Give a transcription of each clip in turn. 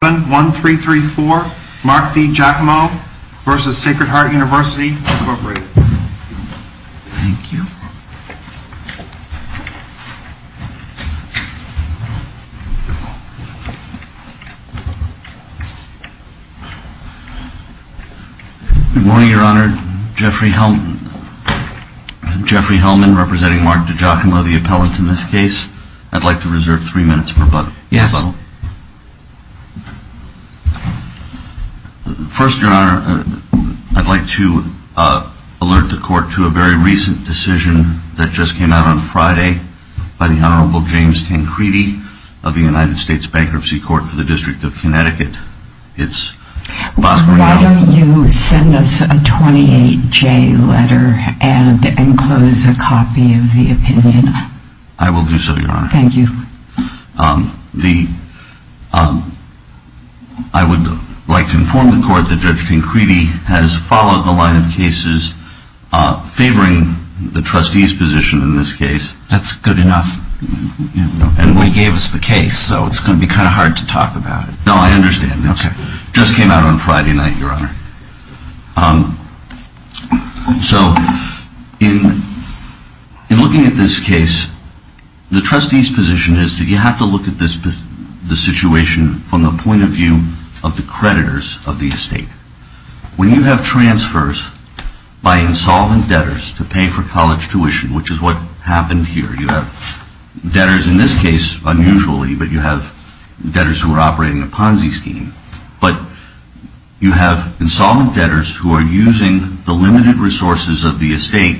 Good morning, Your Honor. Jeffrey Hellman representing Mark DeGiacomo, the appellant in this case. I'd like to reserve three minutes for butthole. First, Your Honor, I'd like to alert the Court to a very recent decision that just came out on Friday by the Honorable James Tancredi of the United States Bankruptcy Court for the District of Connecticut. It's I will do so, Your Honor. Thank you. I would like to inform the Court that Judge Tancredi has followed the line of cases favoring the trustee's position in this case. That's good enough. And we gave us the case, so it's going to be kind of hard to talk about it. No, I The trustee's position is that you have to look at this situation from the point of view of the creditors of the estate. When you have transfers by insolvent debtors to pay for college tuition, which is what happened here. You have debtors in this case, unusually, but you have debtors who are operating a Ponzi scheme. But you have insolvent debtors who are using the limited resources of the estate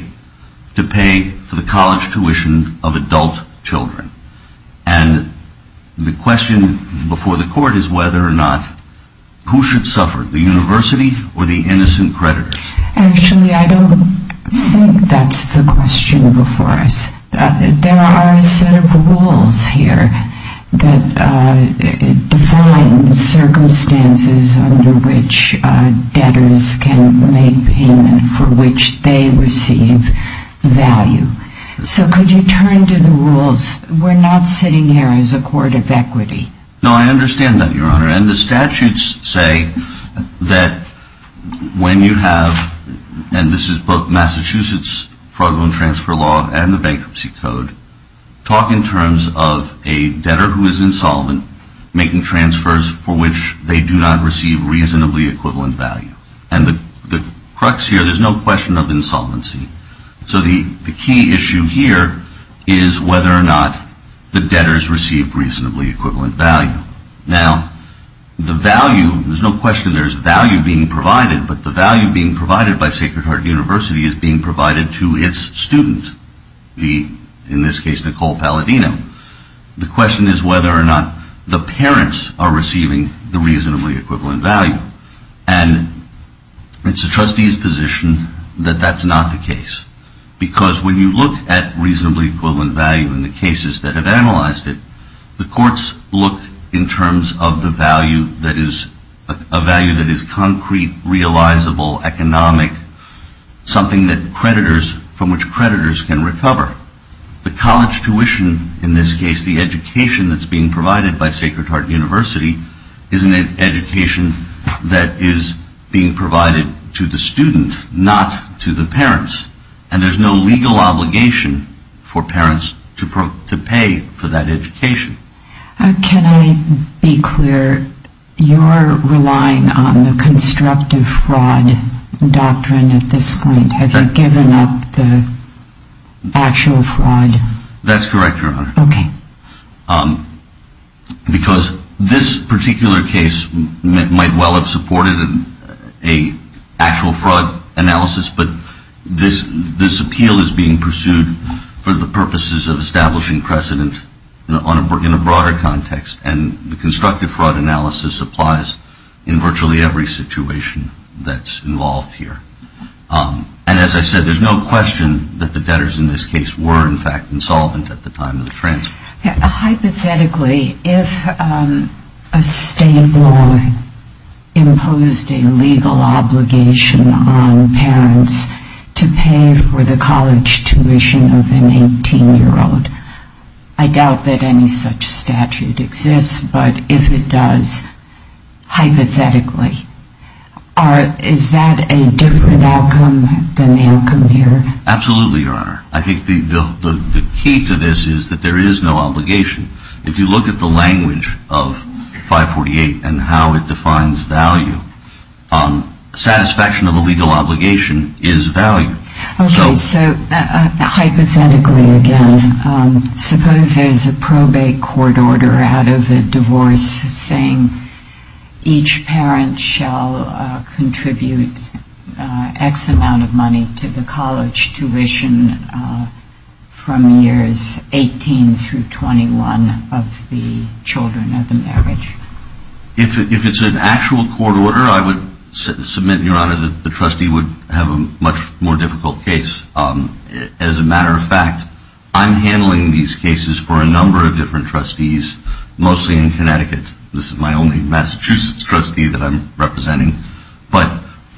to pay for the college tuition of adult children. And the question before the Court is whether or not who should suffer, the university or the innocent creditors? Actually, I don't think that's the question before us. There are a set of rules here that define circumstances under which debtors can make payment for which they receive value. So could you turn to the rules? We're not sitting here as a court of equity. No, I understand that, Your Honor. And the statutes say that when you have, and this is both Massachusetts fraudulent transfer law and the bankruptcy code, talk in terms of a debtor who is insolvent making transfers for which they do not receive reasonably equivalent value. And the crux here, there's no question of insolvency. So the key issue here is whether or not the debtors receive reasonably equivalent value. Now, the value, there's no question there's value being provided, but the value being provided by Sacred Heart University is being provided to its student, in this case, Nicole Palladino. The question is whether or not the parents are receiving the reasonably equivalent value. And it's the trustee's position that that's not the case. Because when you look at reasonably equivalent value in the cases that have analyzed it, the courts look in terms of the value that is a value that is concrete, realizable, economic, something that creditors, from which creditors can recover. The college tuition, in this case, the education that's being provided by Sacred Heart University is an education that is being provided to the student, not to the parents. And there's no legal obligation for parents to pay for that education. Can I be clear? You're relying on the constructive fraud doctrine at this point. Have you given up the actual fraud? That's correct, Your Honor. Okay. Because this particular case might well have supported an actual fraud analysis, but this appeal is being pursued for the purposes of establishing precedent in a broader context. And the constructive fraud analysis applies in virtually every situation that's involved here. And as I said, there's no question that the debtors in this case were, in fact, insolvent at the time of the transfer. Hypothetically, if a state law imposed a legal obligation on parents to pay for the college tuition of an 18-year-old, I doubt that any such statute exists. But if it does, I doubt that it exists, hypothetically. Is that a different outcome than the outcome here? Absolutely, Your Honor. I think the key to this is that there is no obligation. If you look at the language of 548 and how it defines value, satisfaction of a legal obligation is value. Okay. So hypothetically, again, suppose there's a probate court order out of a divorce saying each parent shall contribute X amount of money to the college tuition from years 18 through 21 of the children of the marriage. If it's an actual court order, I would submit, Your Honor, that the trustee would have a much more difficult case. As a matter of fact, I'm handling these cases for a number of different trustees, mostly in Connecticut. This is my only Massachusetts trustee that I'm representing. But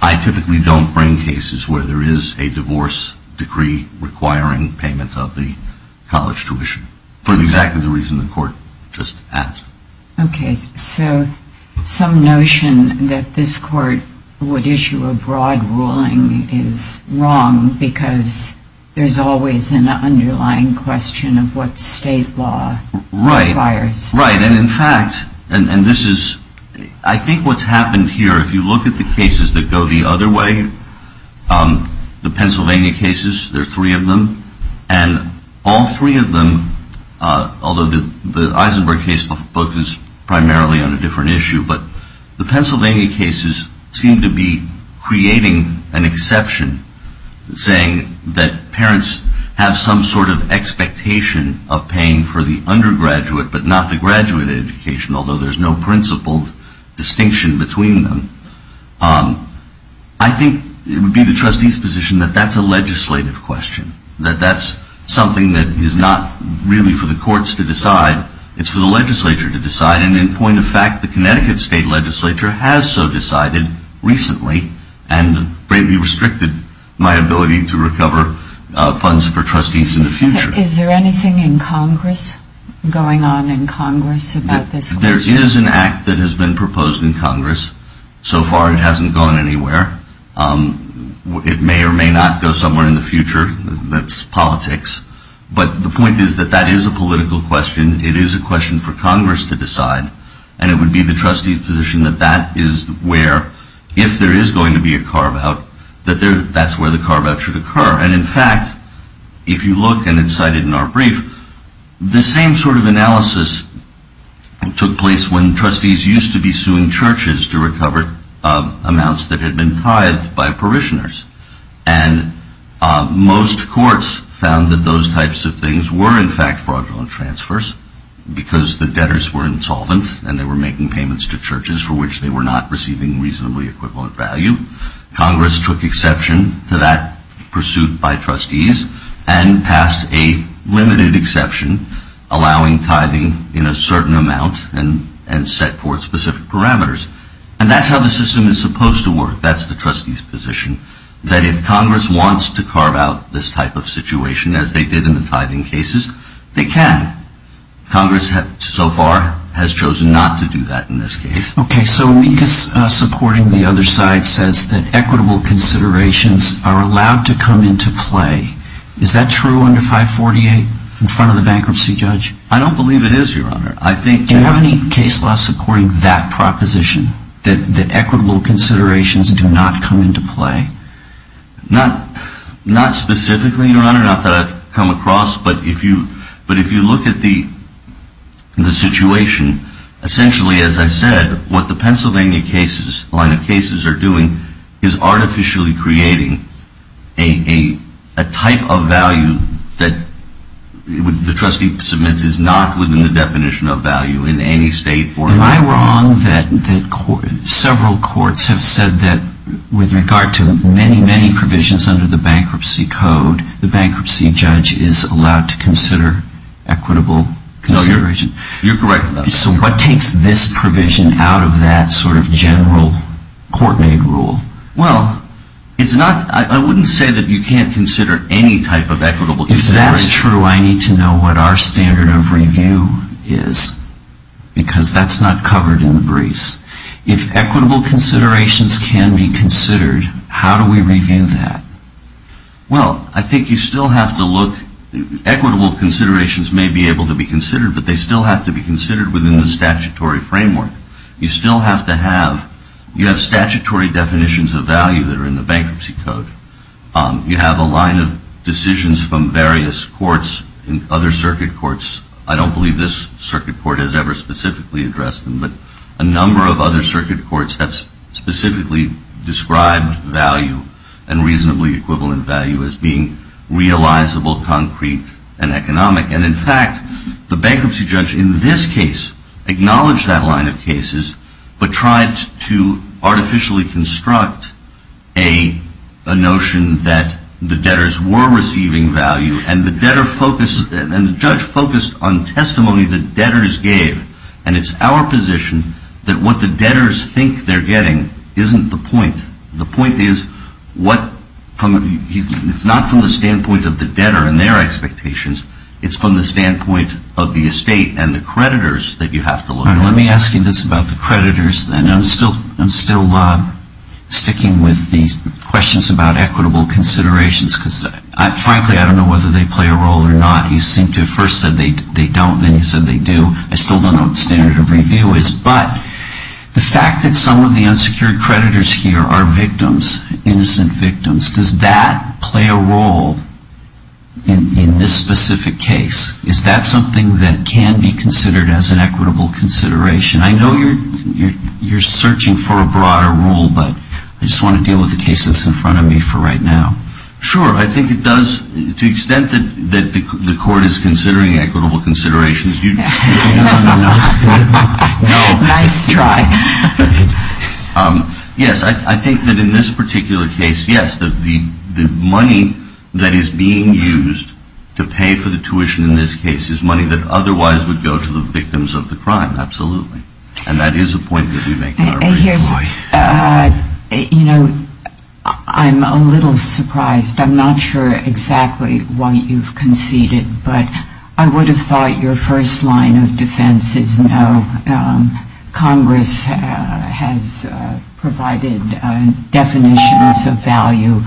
I typically don't bring cases where there is a divorce decree requiring payment of the college tuition, for exactly the reason the Court just asked. Okay. So some notion that this Court would issue a broad ruling is that the court would issue a broad ruling, and that's wrong, because there's always an underlying question of what state law requires. Right. And in fact, and this is, I think what's happened here, if you look at the cases that go the other way, the Pennsylvania cases, there are three of them, and all three of them, although the Eisenberg case focuses primarily on a different issue, but the Pennsylvania cases seem to be creating an exception, saying that parents have some sort of expectation of paying for the undergraduate, but not the graduate education, although there's no principled distinction between them. I think it would be the trustee's position that that's a legislative question, that that's something that is not really for the courts to decide, it's for the legislature to decide, and in point of fact, the Connecticut state legislature has so decided recently, and greatly restricted my ability to recover funds for trustees in the future. Is there anything in Congress, going on in Congress about this question? There is an act that has been proposed in Congress. So far it hasn't gone anywhere. It may or may not go somewhere in the future, that's politics, but the point is that that is a political question, it is a question for Congress to decide, and it would be the trustee's position that that is where, if there is going to be a carve out, that that's where the carve out should occur. And in fact, if you look, and it's cited in our brief, the same sort of analysis took place when trustees used to be suing churches to recover amounts that had been tithed by parishioners. And most courts found that those types of things were in fact fraudulent transfers, because the debtors were insolvent, and they were making payments to churches for which they were not receiving reasonably equivalent value. Congress took exception to that pursuit by trustees, and passed a limited exception, allowing tithing in a certain amount, and set forth specific parameters. And that's how the system is supposed to work, that's the trustee's position, that if Congress wants to carve out this type of situation, as they did in the tithing cases, they can. Congress so far has chosen not to do that in this case. Okay, so OECUS supporting the other side says that equitable considerations are allowed to come into play. Is that true under 548, in front of the bankruptcy judge? I don't believe it is, Your Honor. I think that... That equitable considerations do not come into play? Not specifically, Your Honor, not that I've come across, but if you look at the situation, essentially as I said, what the Pennsylvania cases, line of cases are doing, is artificially creating a type of value that the trustee submits is not within the definition of value in any state or... Am I wrong that several courts have said that with regard to many, many provisions under the bankruptcy code, the bankruptcy judge is allowed to consider equitable consideration? No, you're correct about that. So what takes this provision out of that sort of general court-made rule? Well, it's not, I wouldn't say that you can't consider any type of equitable consideration. If that's true, I need to know what our standard of review is, because that's not covered in the briefs. If equitable considerations can be considered, how do we review that? Well, I think you still have to look, equitable considerations may be able to be considered, but they still have to be considered within the statutory framework. You still have to have, you have statutory definitions of value that are in the bankruptcy code. You have a line of decisions from various courts and other circuit courts. I don't believe this circuit court has ever specifically addressed them, but a number of other circuit courts have specifically described value and reasonably equivalent value as being realizable, concrete and economic. And in fact, the bankruptcy judge in this case, acknowledged that line of cases, but tried to artificially construct a notion that the judge is not allowed to say that the debtors were receiving value, and the judge focused on testimony the debtors gave. And it's our position that what the debtors think they're getting isn't the point. The point is, it's not from the standpoint of the debtor and their expectations, it's from the standpoint of the estate and the creditors that you have to look at. Let me ask you this about the creditors then. I'm still sticking with these questions about equitable considerations, because frankly, I don't know whether they play a role or not. You seem to have first said they don't, then you said they do. I still don't know what standard of review is. But the fact that some of the unsecured creditors here are victims, innocent victims, does that play a role in this specific case? Is that something that can be considered as an equitable consideration? I know you're searching for a broader rule, but I just want to deal with the case that's in front of me for right now. Sure, I think it does. To the extent that the court is considering equitable considerations, yes, I think that in this particular case, yes, the money that is being used to pay for the tuition in this case is money that otherwise would go to the victims of the crime, absolutely. And that is a point that we make in our written law. I'm a little surprised. I'm not sure exactly why you've conceded, but I would have thought your first line of defense is no. Congress has provided definitions of value,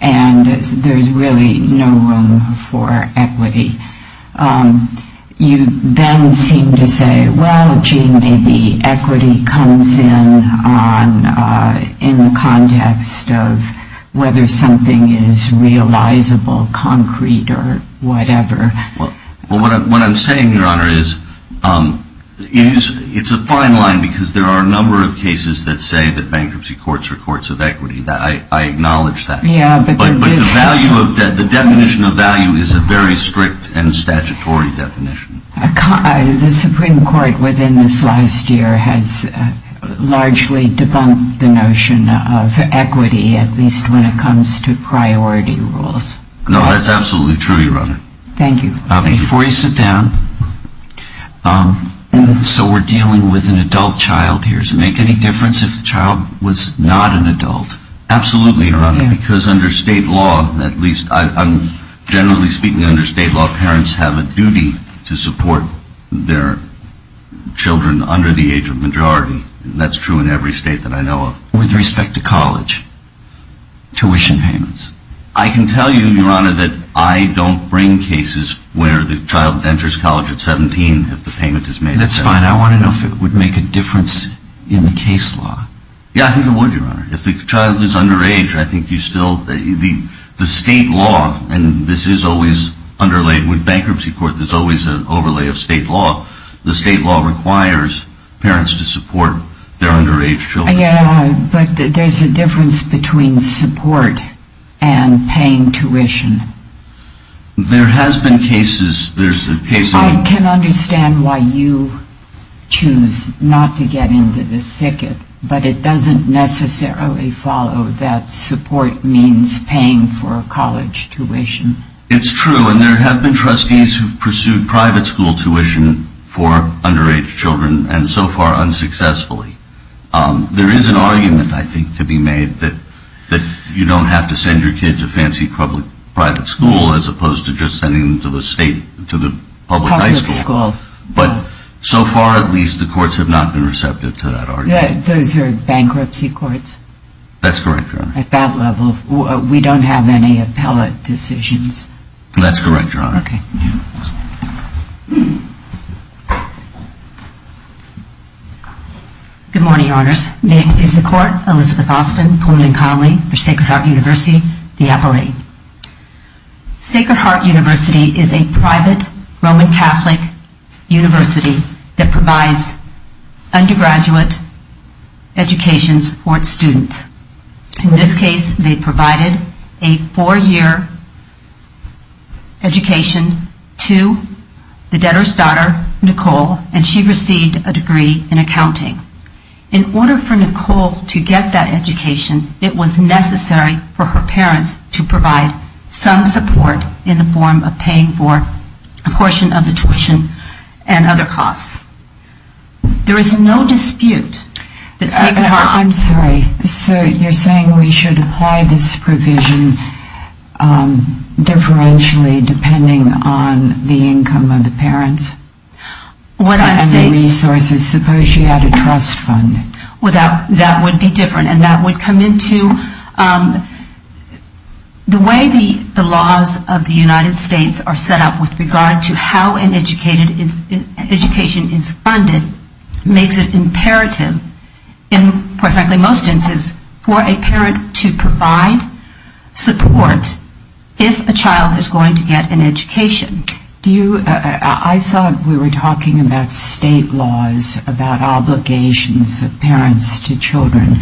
and there's really no room for equity. You then seem to say, well, gee, maybe it's just a matter of whether or not maybe equity comes in on, in the context of whether something is realizable, concrete, or whatever. Well, what I'm saying, Your Honor, is it's a fine line, because there are a number of cases that say that bankruptcy courts are courts of equity. I acknowledge that. Yeah, but there is some... The definition of value is a very strict and statutory definition. The Supreme Court within this last year has largely debunked the notion of equity, at least when it comes to priority rules. No, that's absolutely true, Your Honor. Thank you. Before you sit down, so we're dealing with an adult child here. Does it make any difference if the child was not an adult? Absolutely, Your Honor, because under state law, at least, generally speaking, under state law, parents have a duty to support their children under the age of majority, and that's true in every state that I know of. With respect to college, tuition payments? I can tell you, Your Honor, that I don't bring cases where the child enters college at 17 if the payment is made... That's fine. I want to know if it would make a difference in the case law. Yeah, I think it would, Your Honor. If the child is underage, I think you still... The state law, and this is always underlain with bankruptcy court, there's always an overlay of state law, the state law requires parents to support their underage children. Yeah, but there's a difference between support and paying tuition. There has been cases, there's a case... I can understand why you choose not to get into the thicket, but it doesn't necessarily follow that support means paying for college tuition. It's true, and there have been trustees who've pursued private school tuition for underage children, and so far, unsuccessfully. There is an argument, I think, to be made that you don't have to send your kid to fancy private school as opposed to just sending them to the state, to the public high school, but so far, at least, the courts have not been receptive to that argument. Those are bankruptcy courts? That's correct, Your Honor. At that level, we don't have any appellate decisions? That's correct, Your Honor. Okay. Good morning, Your Honors. Named in support, Elizabeth Austin, Pullman Connolly, for Sacred Heart University, the Appellate. Sacred Heart University is a private Roman Catholic university that provides undergraduate education for its students. In this case, they provided a four-year education to the debtor's daughter, Nicole, and she received a degree in accounting. In order for Nicole to get that education, it was necessary for her parents to provide some support in the form of paying for a portion of the tuition and other costs. There is no dispute that Sacred Heart... I'm sorry. So you're saying we should apply this provision differentially depending on the income of the parents? What I'm saying... And the resources, suppose you had a trust fund? That would be different, and that would come into... The way the laws of the United States are set up with regard to how an education is funded makes it imperative in most instances for a parent to provide support if a child is going to get an education. I thought we were talking about state laws, about obligations of parents to children.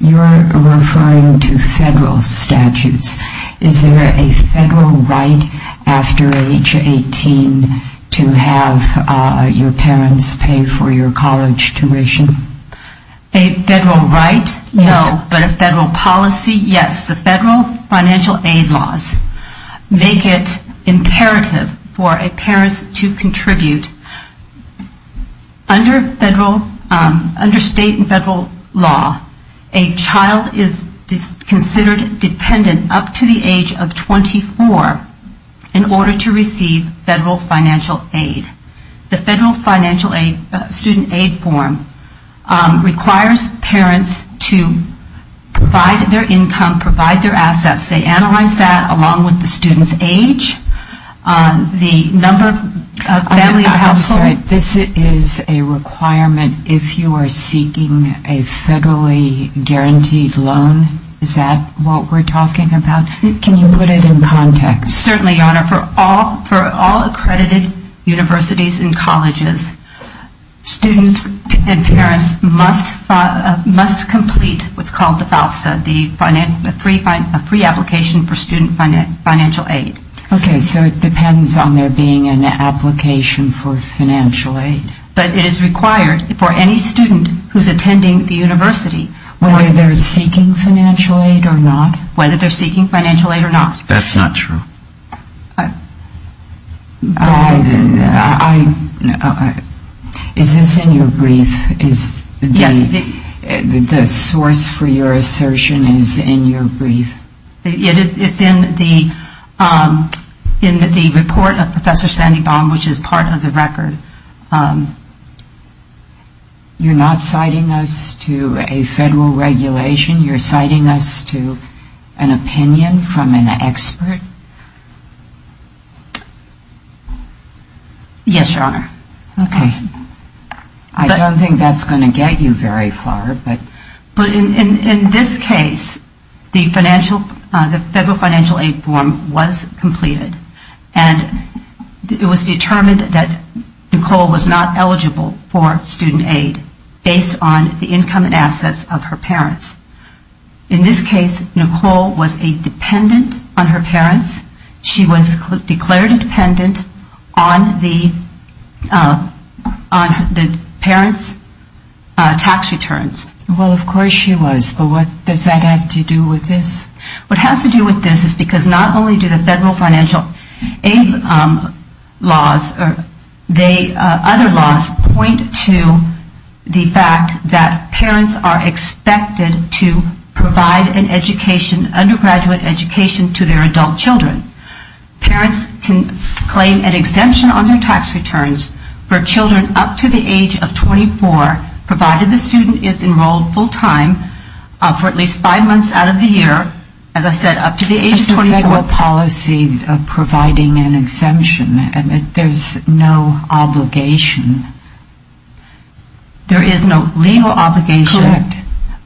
You're referring to federal statutes. Is there a federal right after age 18 to have your parents pay for your college tuition? A federal right? No. But a federal policy? Yes. The federal financial aid laws make it imperative for a parent to contribute. Under state and federal law, a child is considered dependent up to the age of 24 in order to receive federal financial aid. The federal financial aid, student aid form, requires parents to provide their income, provide their household... I'm sorry. This is a requirement if you are seeking a federally guaranteed loan? Is that what we're talking about? Can you put it in context? Certainly, Your Honor. For all accredited universities and colleges, students and parents must complete what's called the FAFSA, the Free Application for Student Financial Aid. Okay. So it depends on there being an application for financial aid. But it is required for any student who's attending the university. Whether they're seeking financial aid or not? Whether they're seeking financial aid or not. That's not true. Is this in your brief? Yes. The source for your assertion is in your brief? It's in the report of Professor Sandy Baum, which is part of the record. You're not citing us to a federal regulation? You're citing us to an opinion from an expert? Yes, Your Honor. Okay. I don't think that's going to get you very far. But in this case, the federal financial aid form was completed and it was determined that Nicole was not eligible for student aid based on the income and assets of her parents. In this case, Nicole was a dependent on her parents. She was declared dependent on the parents' tax returns. Well, of course she was. But what does that have to do with this? What has to do with this is because not only do the federal financial aid laws, other laws point to the fact that parents are expected to provide an education, an undergraduate education to their adult children. Parents can claim an exemption on their tax returns for children up to the age of 24, provided the student is enrolled full-time for at least five months out of the year. As I said, up to the age of 24. That's a federal policy of providing an exemption. There's no obligation. There is no legal obligation. Correct.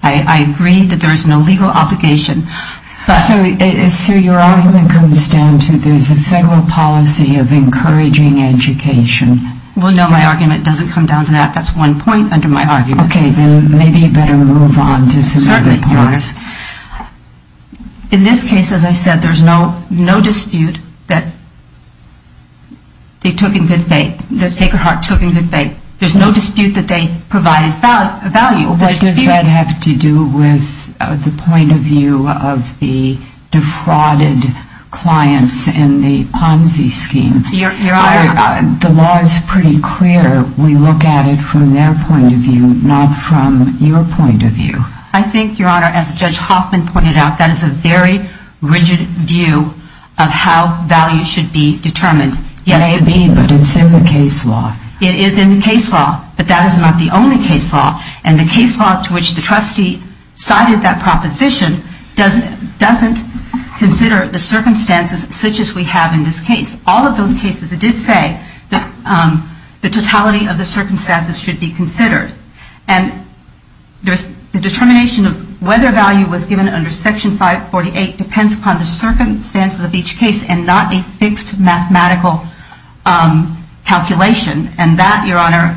I agree that there is no legal obligation. So your argument comes down to there's a federal policy of encouraging education. Well, no, my argument doesn't come down to that. That's one point under my argument. Okay, then maybe you better move on to some other points. Certainly, Your Honor. In this case, as I said, there's no dispute that they took in good faith, that Sacred Heart took in good faith. There's no dispute that they provided value. What does that have to do with the point of view of the defrauded clients in the Ponzi scheme? Your Honor. The law is pretty clear. We look at it from their point of view, not from your point of view. I think, Your Honor, as Judge Hoffman pointed out, that is a very rigid view of how value should be determined. It may be, but it's in the case law. It is in the case law, but that is not the only case law. And the case law to which the trustee cited that proposition doesn't consider the circumstances such as we have in this case. All of those cases, it did say that the totality of the circumstances should be considered. And the determination of whether value was given under Section 548 depends upon the circumstances of each case and not a fixed mathematical calculation. And that, Your Honor,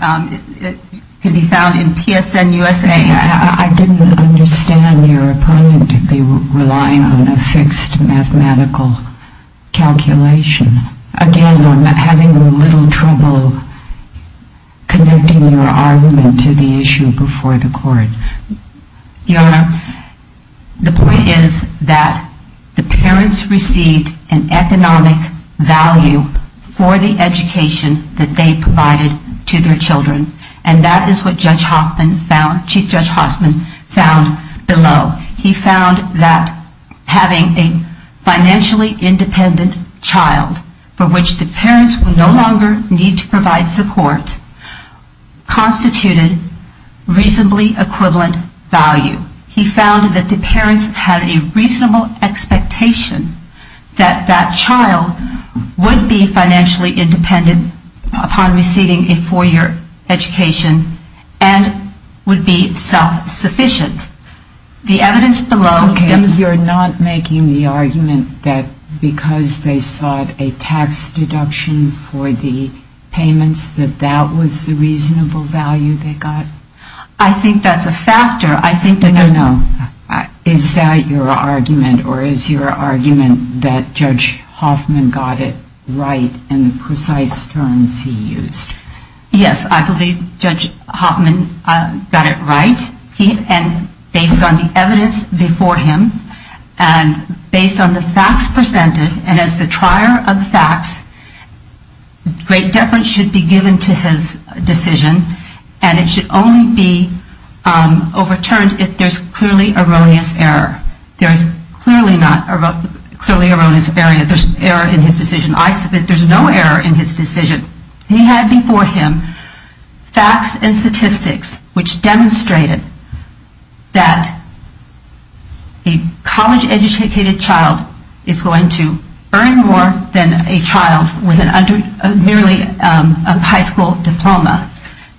can be found in PSN USA. I didn't understand your opponent to be relying on a fixed mathematical calculation. Again, I'm having a little trouble connecting your argument to the issue before the court. Your Honor, the point is that the parents received an economic value for the education that they provided to their children. And that is what Chief Judge Hoffman found below. He found that having a financially independent child for which the parents would no longer need to provide support constituted reasonably equivalent value. He found that the parents had a reasonable expectation that that child would be financially independent upon receiving a four-year education and would be self-sufficient. The evidence below... You're not making the argument that because they sought a tax deduction for the payments that that was the reasonable value they got? I think that's a factor. No, no. Is that your argument or is your argument that Judge Hoffman got it right in the precise terms he used? Yes, I believe Judge Hoffman got it right. Based on the evidence before him and based on the facts presented and as the trier of facts, great deference should be given to his decision and it should only be overturned if there's clearly erroneous error. There's clearly not clearly erroneous error in his decision. I submit there's no error in his decision. He had before him facts and statistics which demonstrated that a college educated child is going to earn more than a child with merely a high school diploma,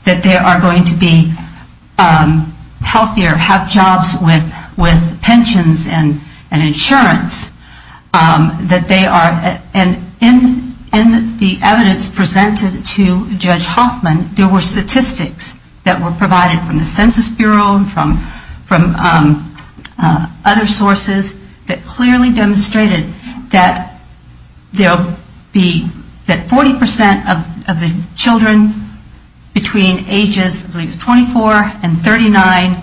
that they are going to be healthier, have jobs with pensions and insurance, that they are... And the evidence presented to Judge Hoffman, there were statistics that were provided from the Census Bureau and from other sources that clearly demonstrated that 40% of the children between ages 24 and 39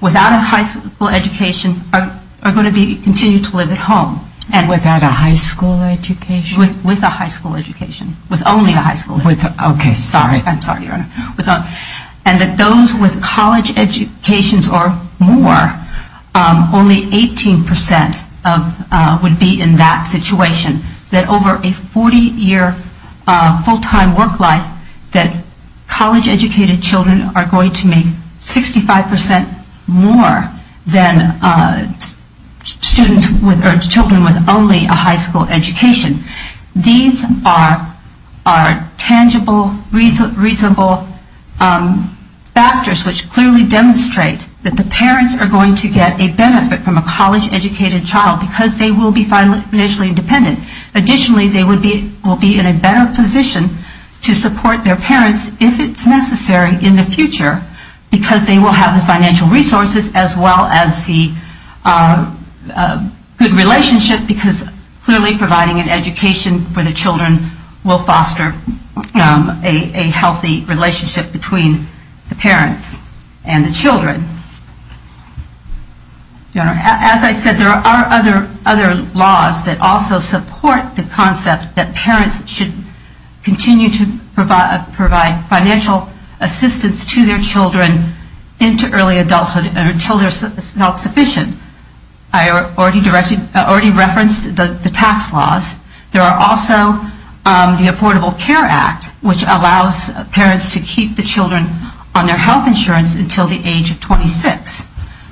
without a high school education are going to continue to live at home. Without a high school education? With a high school education. With only a high school education. Okay, sorry. I'm sorry, Your Honor. And that those with college educations or more, only 18% would be in that situation. That over a 40 year full-time work life, that college educated children are going to make 65% more than children with only a high school education. These are tangible, reasonable factors which clearly demonstrate that the parents are going to get a benefit from a college educated child because they will be financially independent. Additionally, they will be in a better position to support their parents if it's necessary in the future because they will have the financial assistance to their children into early adulthood until they are self-sufficient. I already referenced the tax laws. There are also the Affordable Care Act which allows parents to keep the children on their health insurance until the age of 26.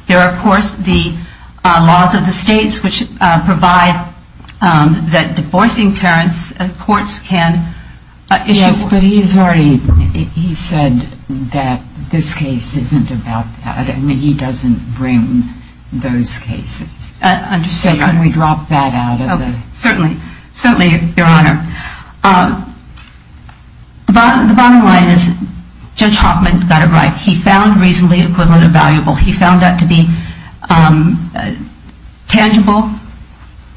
There are, of course, the laws of the states which provide that divorcing parents, courts can issue Yes, but he's already, he said that this case isn't about that. I mean, he doesn't bring those cases. I understand, Your Honor. So can we drop that out of the Certainly, Your Honor. The bottom line is Judge Hoffman got it right. He found reasonably equivalent and valuable. He found that to be tangible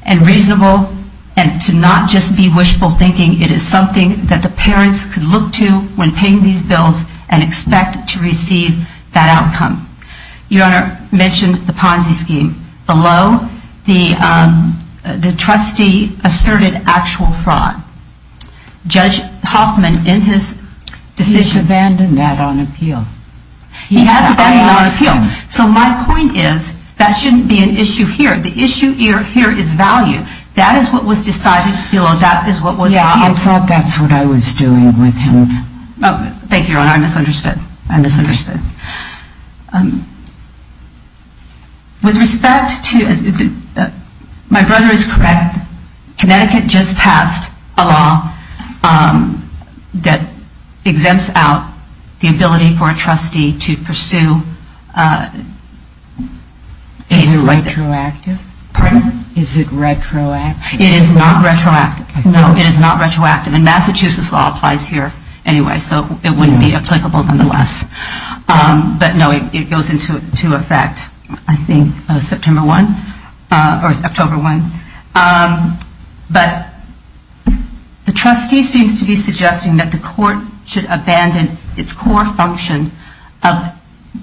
and reasonable and to not just be wishful thinking. It is something that the parents can look to when paying these bills and expect to receive that outcome. Your Honor mentioned the Ponzi scheme. The trustee asserted actual fraud. Judge Hoffman in his decision He's abandoned that on appeal. He has abandoned that on appeal. So my point is that shouldn't be an issue here. The issue here is value. That is what was decided below. That is what was Yeah, I thought that's what I was doing with him. Thank you, Your Honor. I misunderstood. I misunderstood. With respect to My brother is correct. Connecticut just passed a law that exempts out the ability for a trustee to pursue cases like this. Is it retroactive? Pardon? Is it retroactive? It is not retroactive. No. It is not retroactive. And Massachusetts law applies here anyway. So it wouldn't be applicable nonetheless. But no, it goes into effect, I think, September 1 or October 1. But the trustee seems to be suggesting that the court should abandon its core function of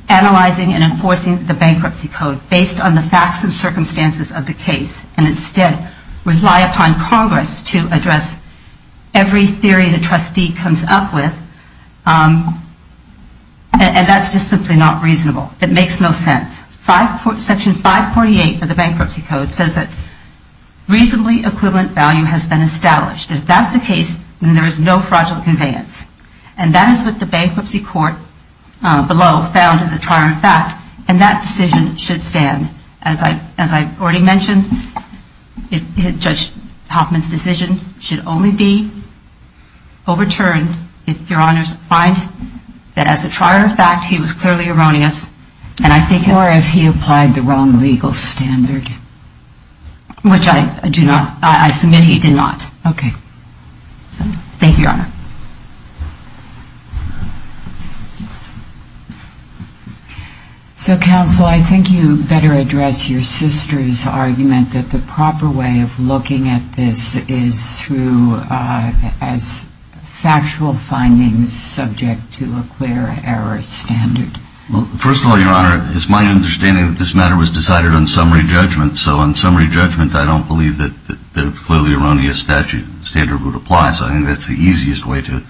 analyzing and enforcing the bankruptcy code based on the facts and circumstances of the case and instead rely upon Congress to address every theory the trustee comes up with And that's just simply not reasonable. It makes no sense. Section 548 of the bankruptcy code says that reasonably equivalent value has been established. If that's the case, then there is no fraudulent conveyance. And that is what the bankruptcy court below found as a triumphant fact. And that decision should stand. As I already mentioned, Judge Hoffman's decision should only be overturned if Your Honor's find that as a triumphant fact he was clearly erroneous. Or if he applied the wrong legal standard. Which I do not. I submit he did not. Okay. Thank you, Your Honor. So, counsel, I think you better address your sister's argument that the proper way of looking at this is through as factual findings subject to a clear error standard. Well, first of all, Your Honor, it's my understanding that this matter was decided on summary judgment. So on summary judgment, I don't believe that the clearly erroneous statute standard would apply. So I think that's the easiest way to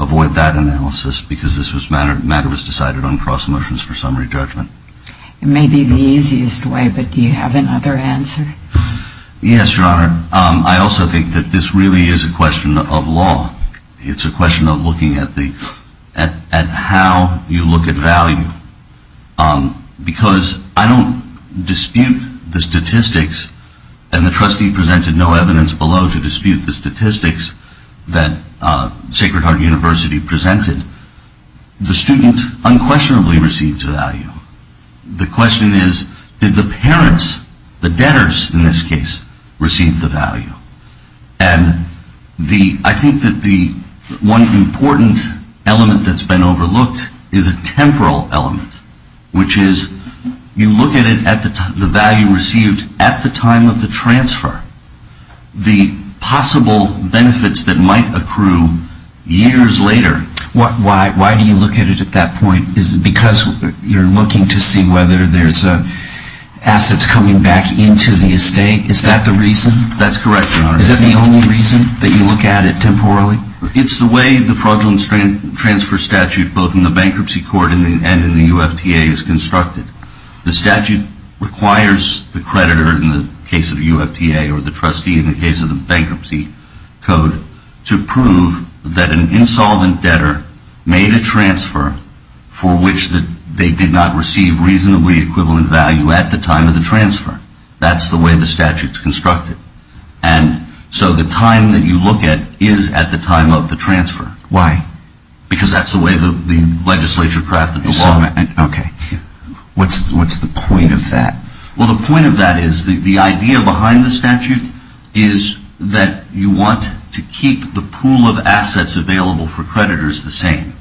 avoid that analysis because this matter was decided on cross motions for summary judgment. It may be the easiest way, but do you have another answer? Yes, Your Honor. I also think that this really is a question of law. It's a question of looking at how you look at value. Because I don't dispute the statistics, and the trustee presented no evidence below to dispute the statistics that Sacred Heart University presented. The student unquestionably received value. The question is, did the parents, the debtors in this case, receive the value? And I think that the one important element that's been overlooked is a temporal element, which is you look at the value received at the time of the transfer. The possible benefits that might accrue years later. Why do you look at it at that point? Is it because you're looking to see whether there's assets coming back into the estate? Is that the reason? That's correct, Your Honor. Is that the only reason that you look at it temporally? It's the way the fraudulent transfer statute, both in the bankruptcy court and in the UFTA, is constructed. The statute requires the creditor in the case of the UFTA or the trustee in the case of the bankruptcy code to prove that an insolvent debtor made a transfer for which they did not receive reasonably equivalent value at the time of the transfer. That's the way the statute's constructed. And so the time that you look at is at the time of the transfer. Why? Because that's the way the legislature crafted the law. Okay. What's the point of that? Well, the point of that is the idea behind the statute is that you want to keep the pool of assets available for creditors the same.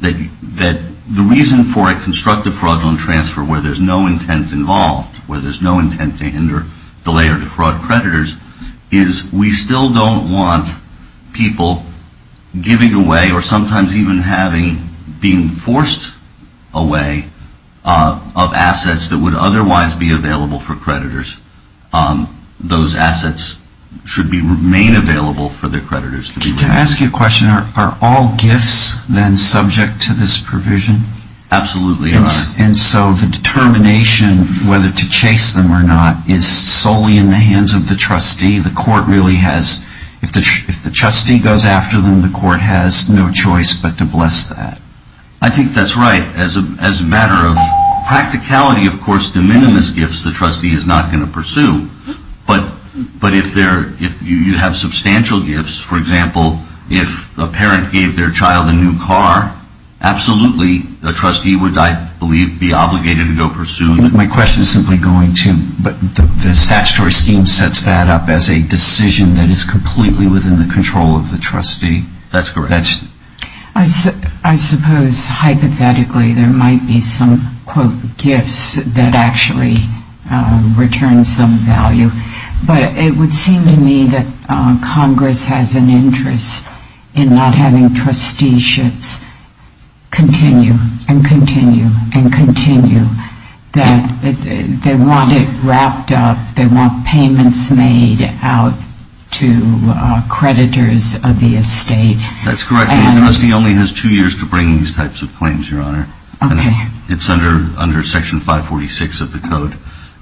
That the reason for a constructive fraudulent transfer where there's no intent involved, where there's no intent to hinder, delay, or defraud creditors, is we still don't want people giving away or sometimes even having being forced away of assets that would otherwise be available for creditors. Those assets should remain available for their creditors. Can I ask you a question? Are all gifts then subject to this provision? Absolutely. And so the determination whether to chase them or not is solely in the hands of the trustee. The court really has, if the trustee goes after them, the court has no choice but to bless that. I think that's right. As a matter of practicality, of course, de minimis gifts the trustee is not going to pursue. But if you have substantial gifts, for example, if a parent gave their child a new car, absolutely the trustee would, I believe, be obligated to go pursue them. My question is simply going to, but the statutory scheme sets that up as a decision that is completely within the control of the trustee. That's correct. I suppose hypothetically there might be some, quote, gifts that actually return some value. But it would seem to me that Congress has an interest in not having trusteeships continue and continue and continue, that they want it wrapped up, they want payments made out to creditors of the estate. That's correct. The trustee only has two years to bring these types of claims, Your Honor. Okay. It's under Section 546 of the Code.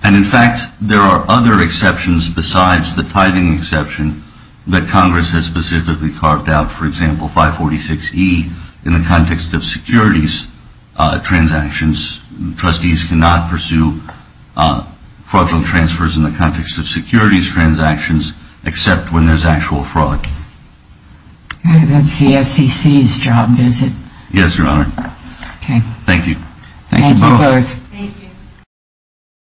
And, in fact, there are other exceptions besides the tithing exception that Congress has specifically carved out, for example, 546E in the context of securities transactions. Trustees cannot pursue fraudulent transfers in the context of securities transactions except when there's actual fraud. That's the SEC's job, is it? Yes, Your Honor. Okay. Thank you. Thank you both. Thank you.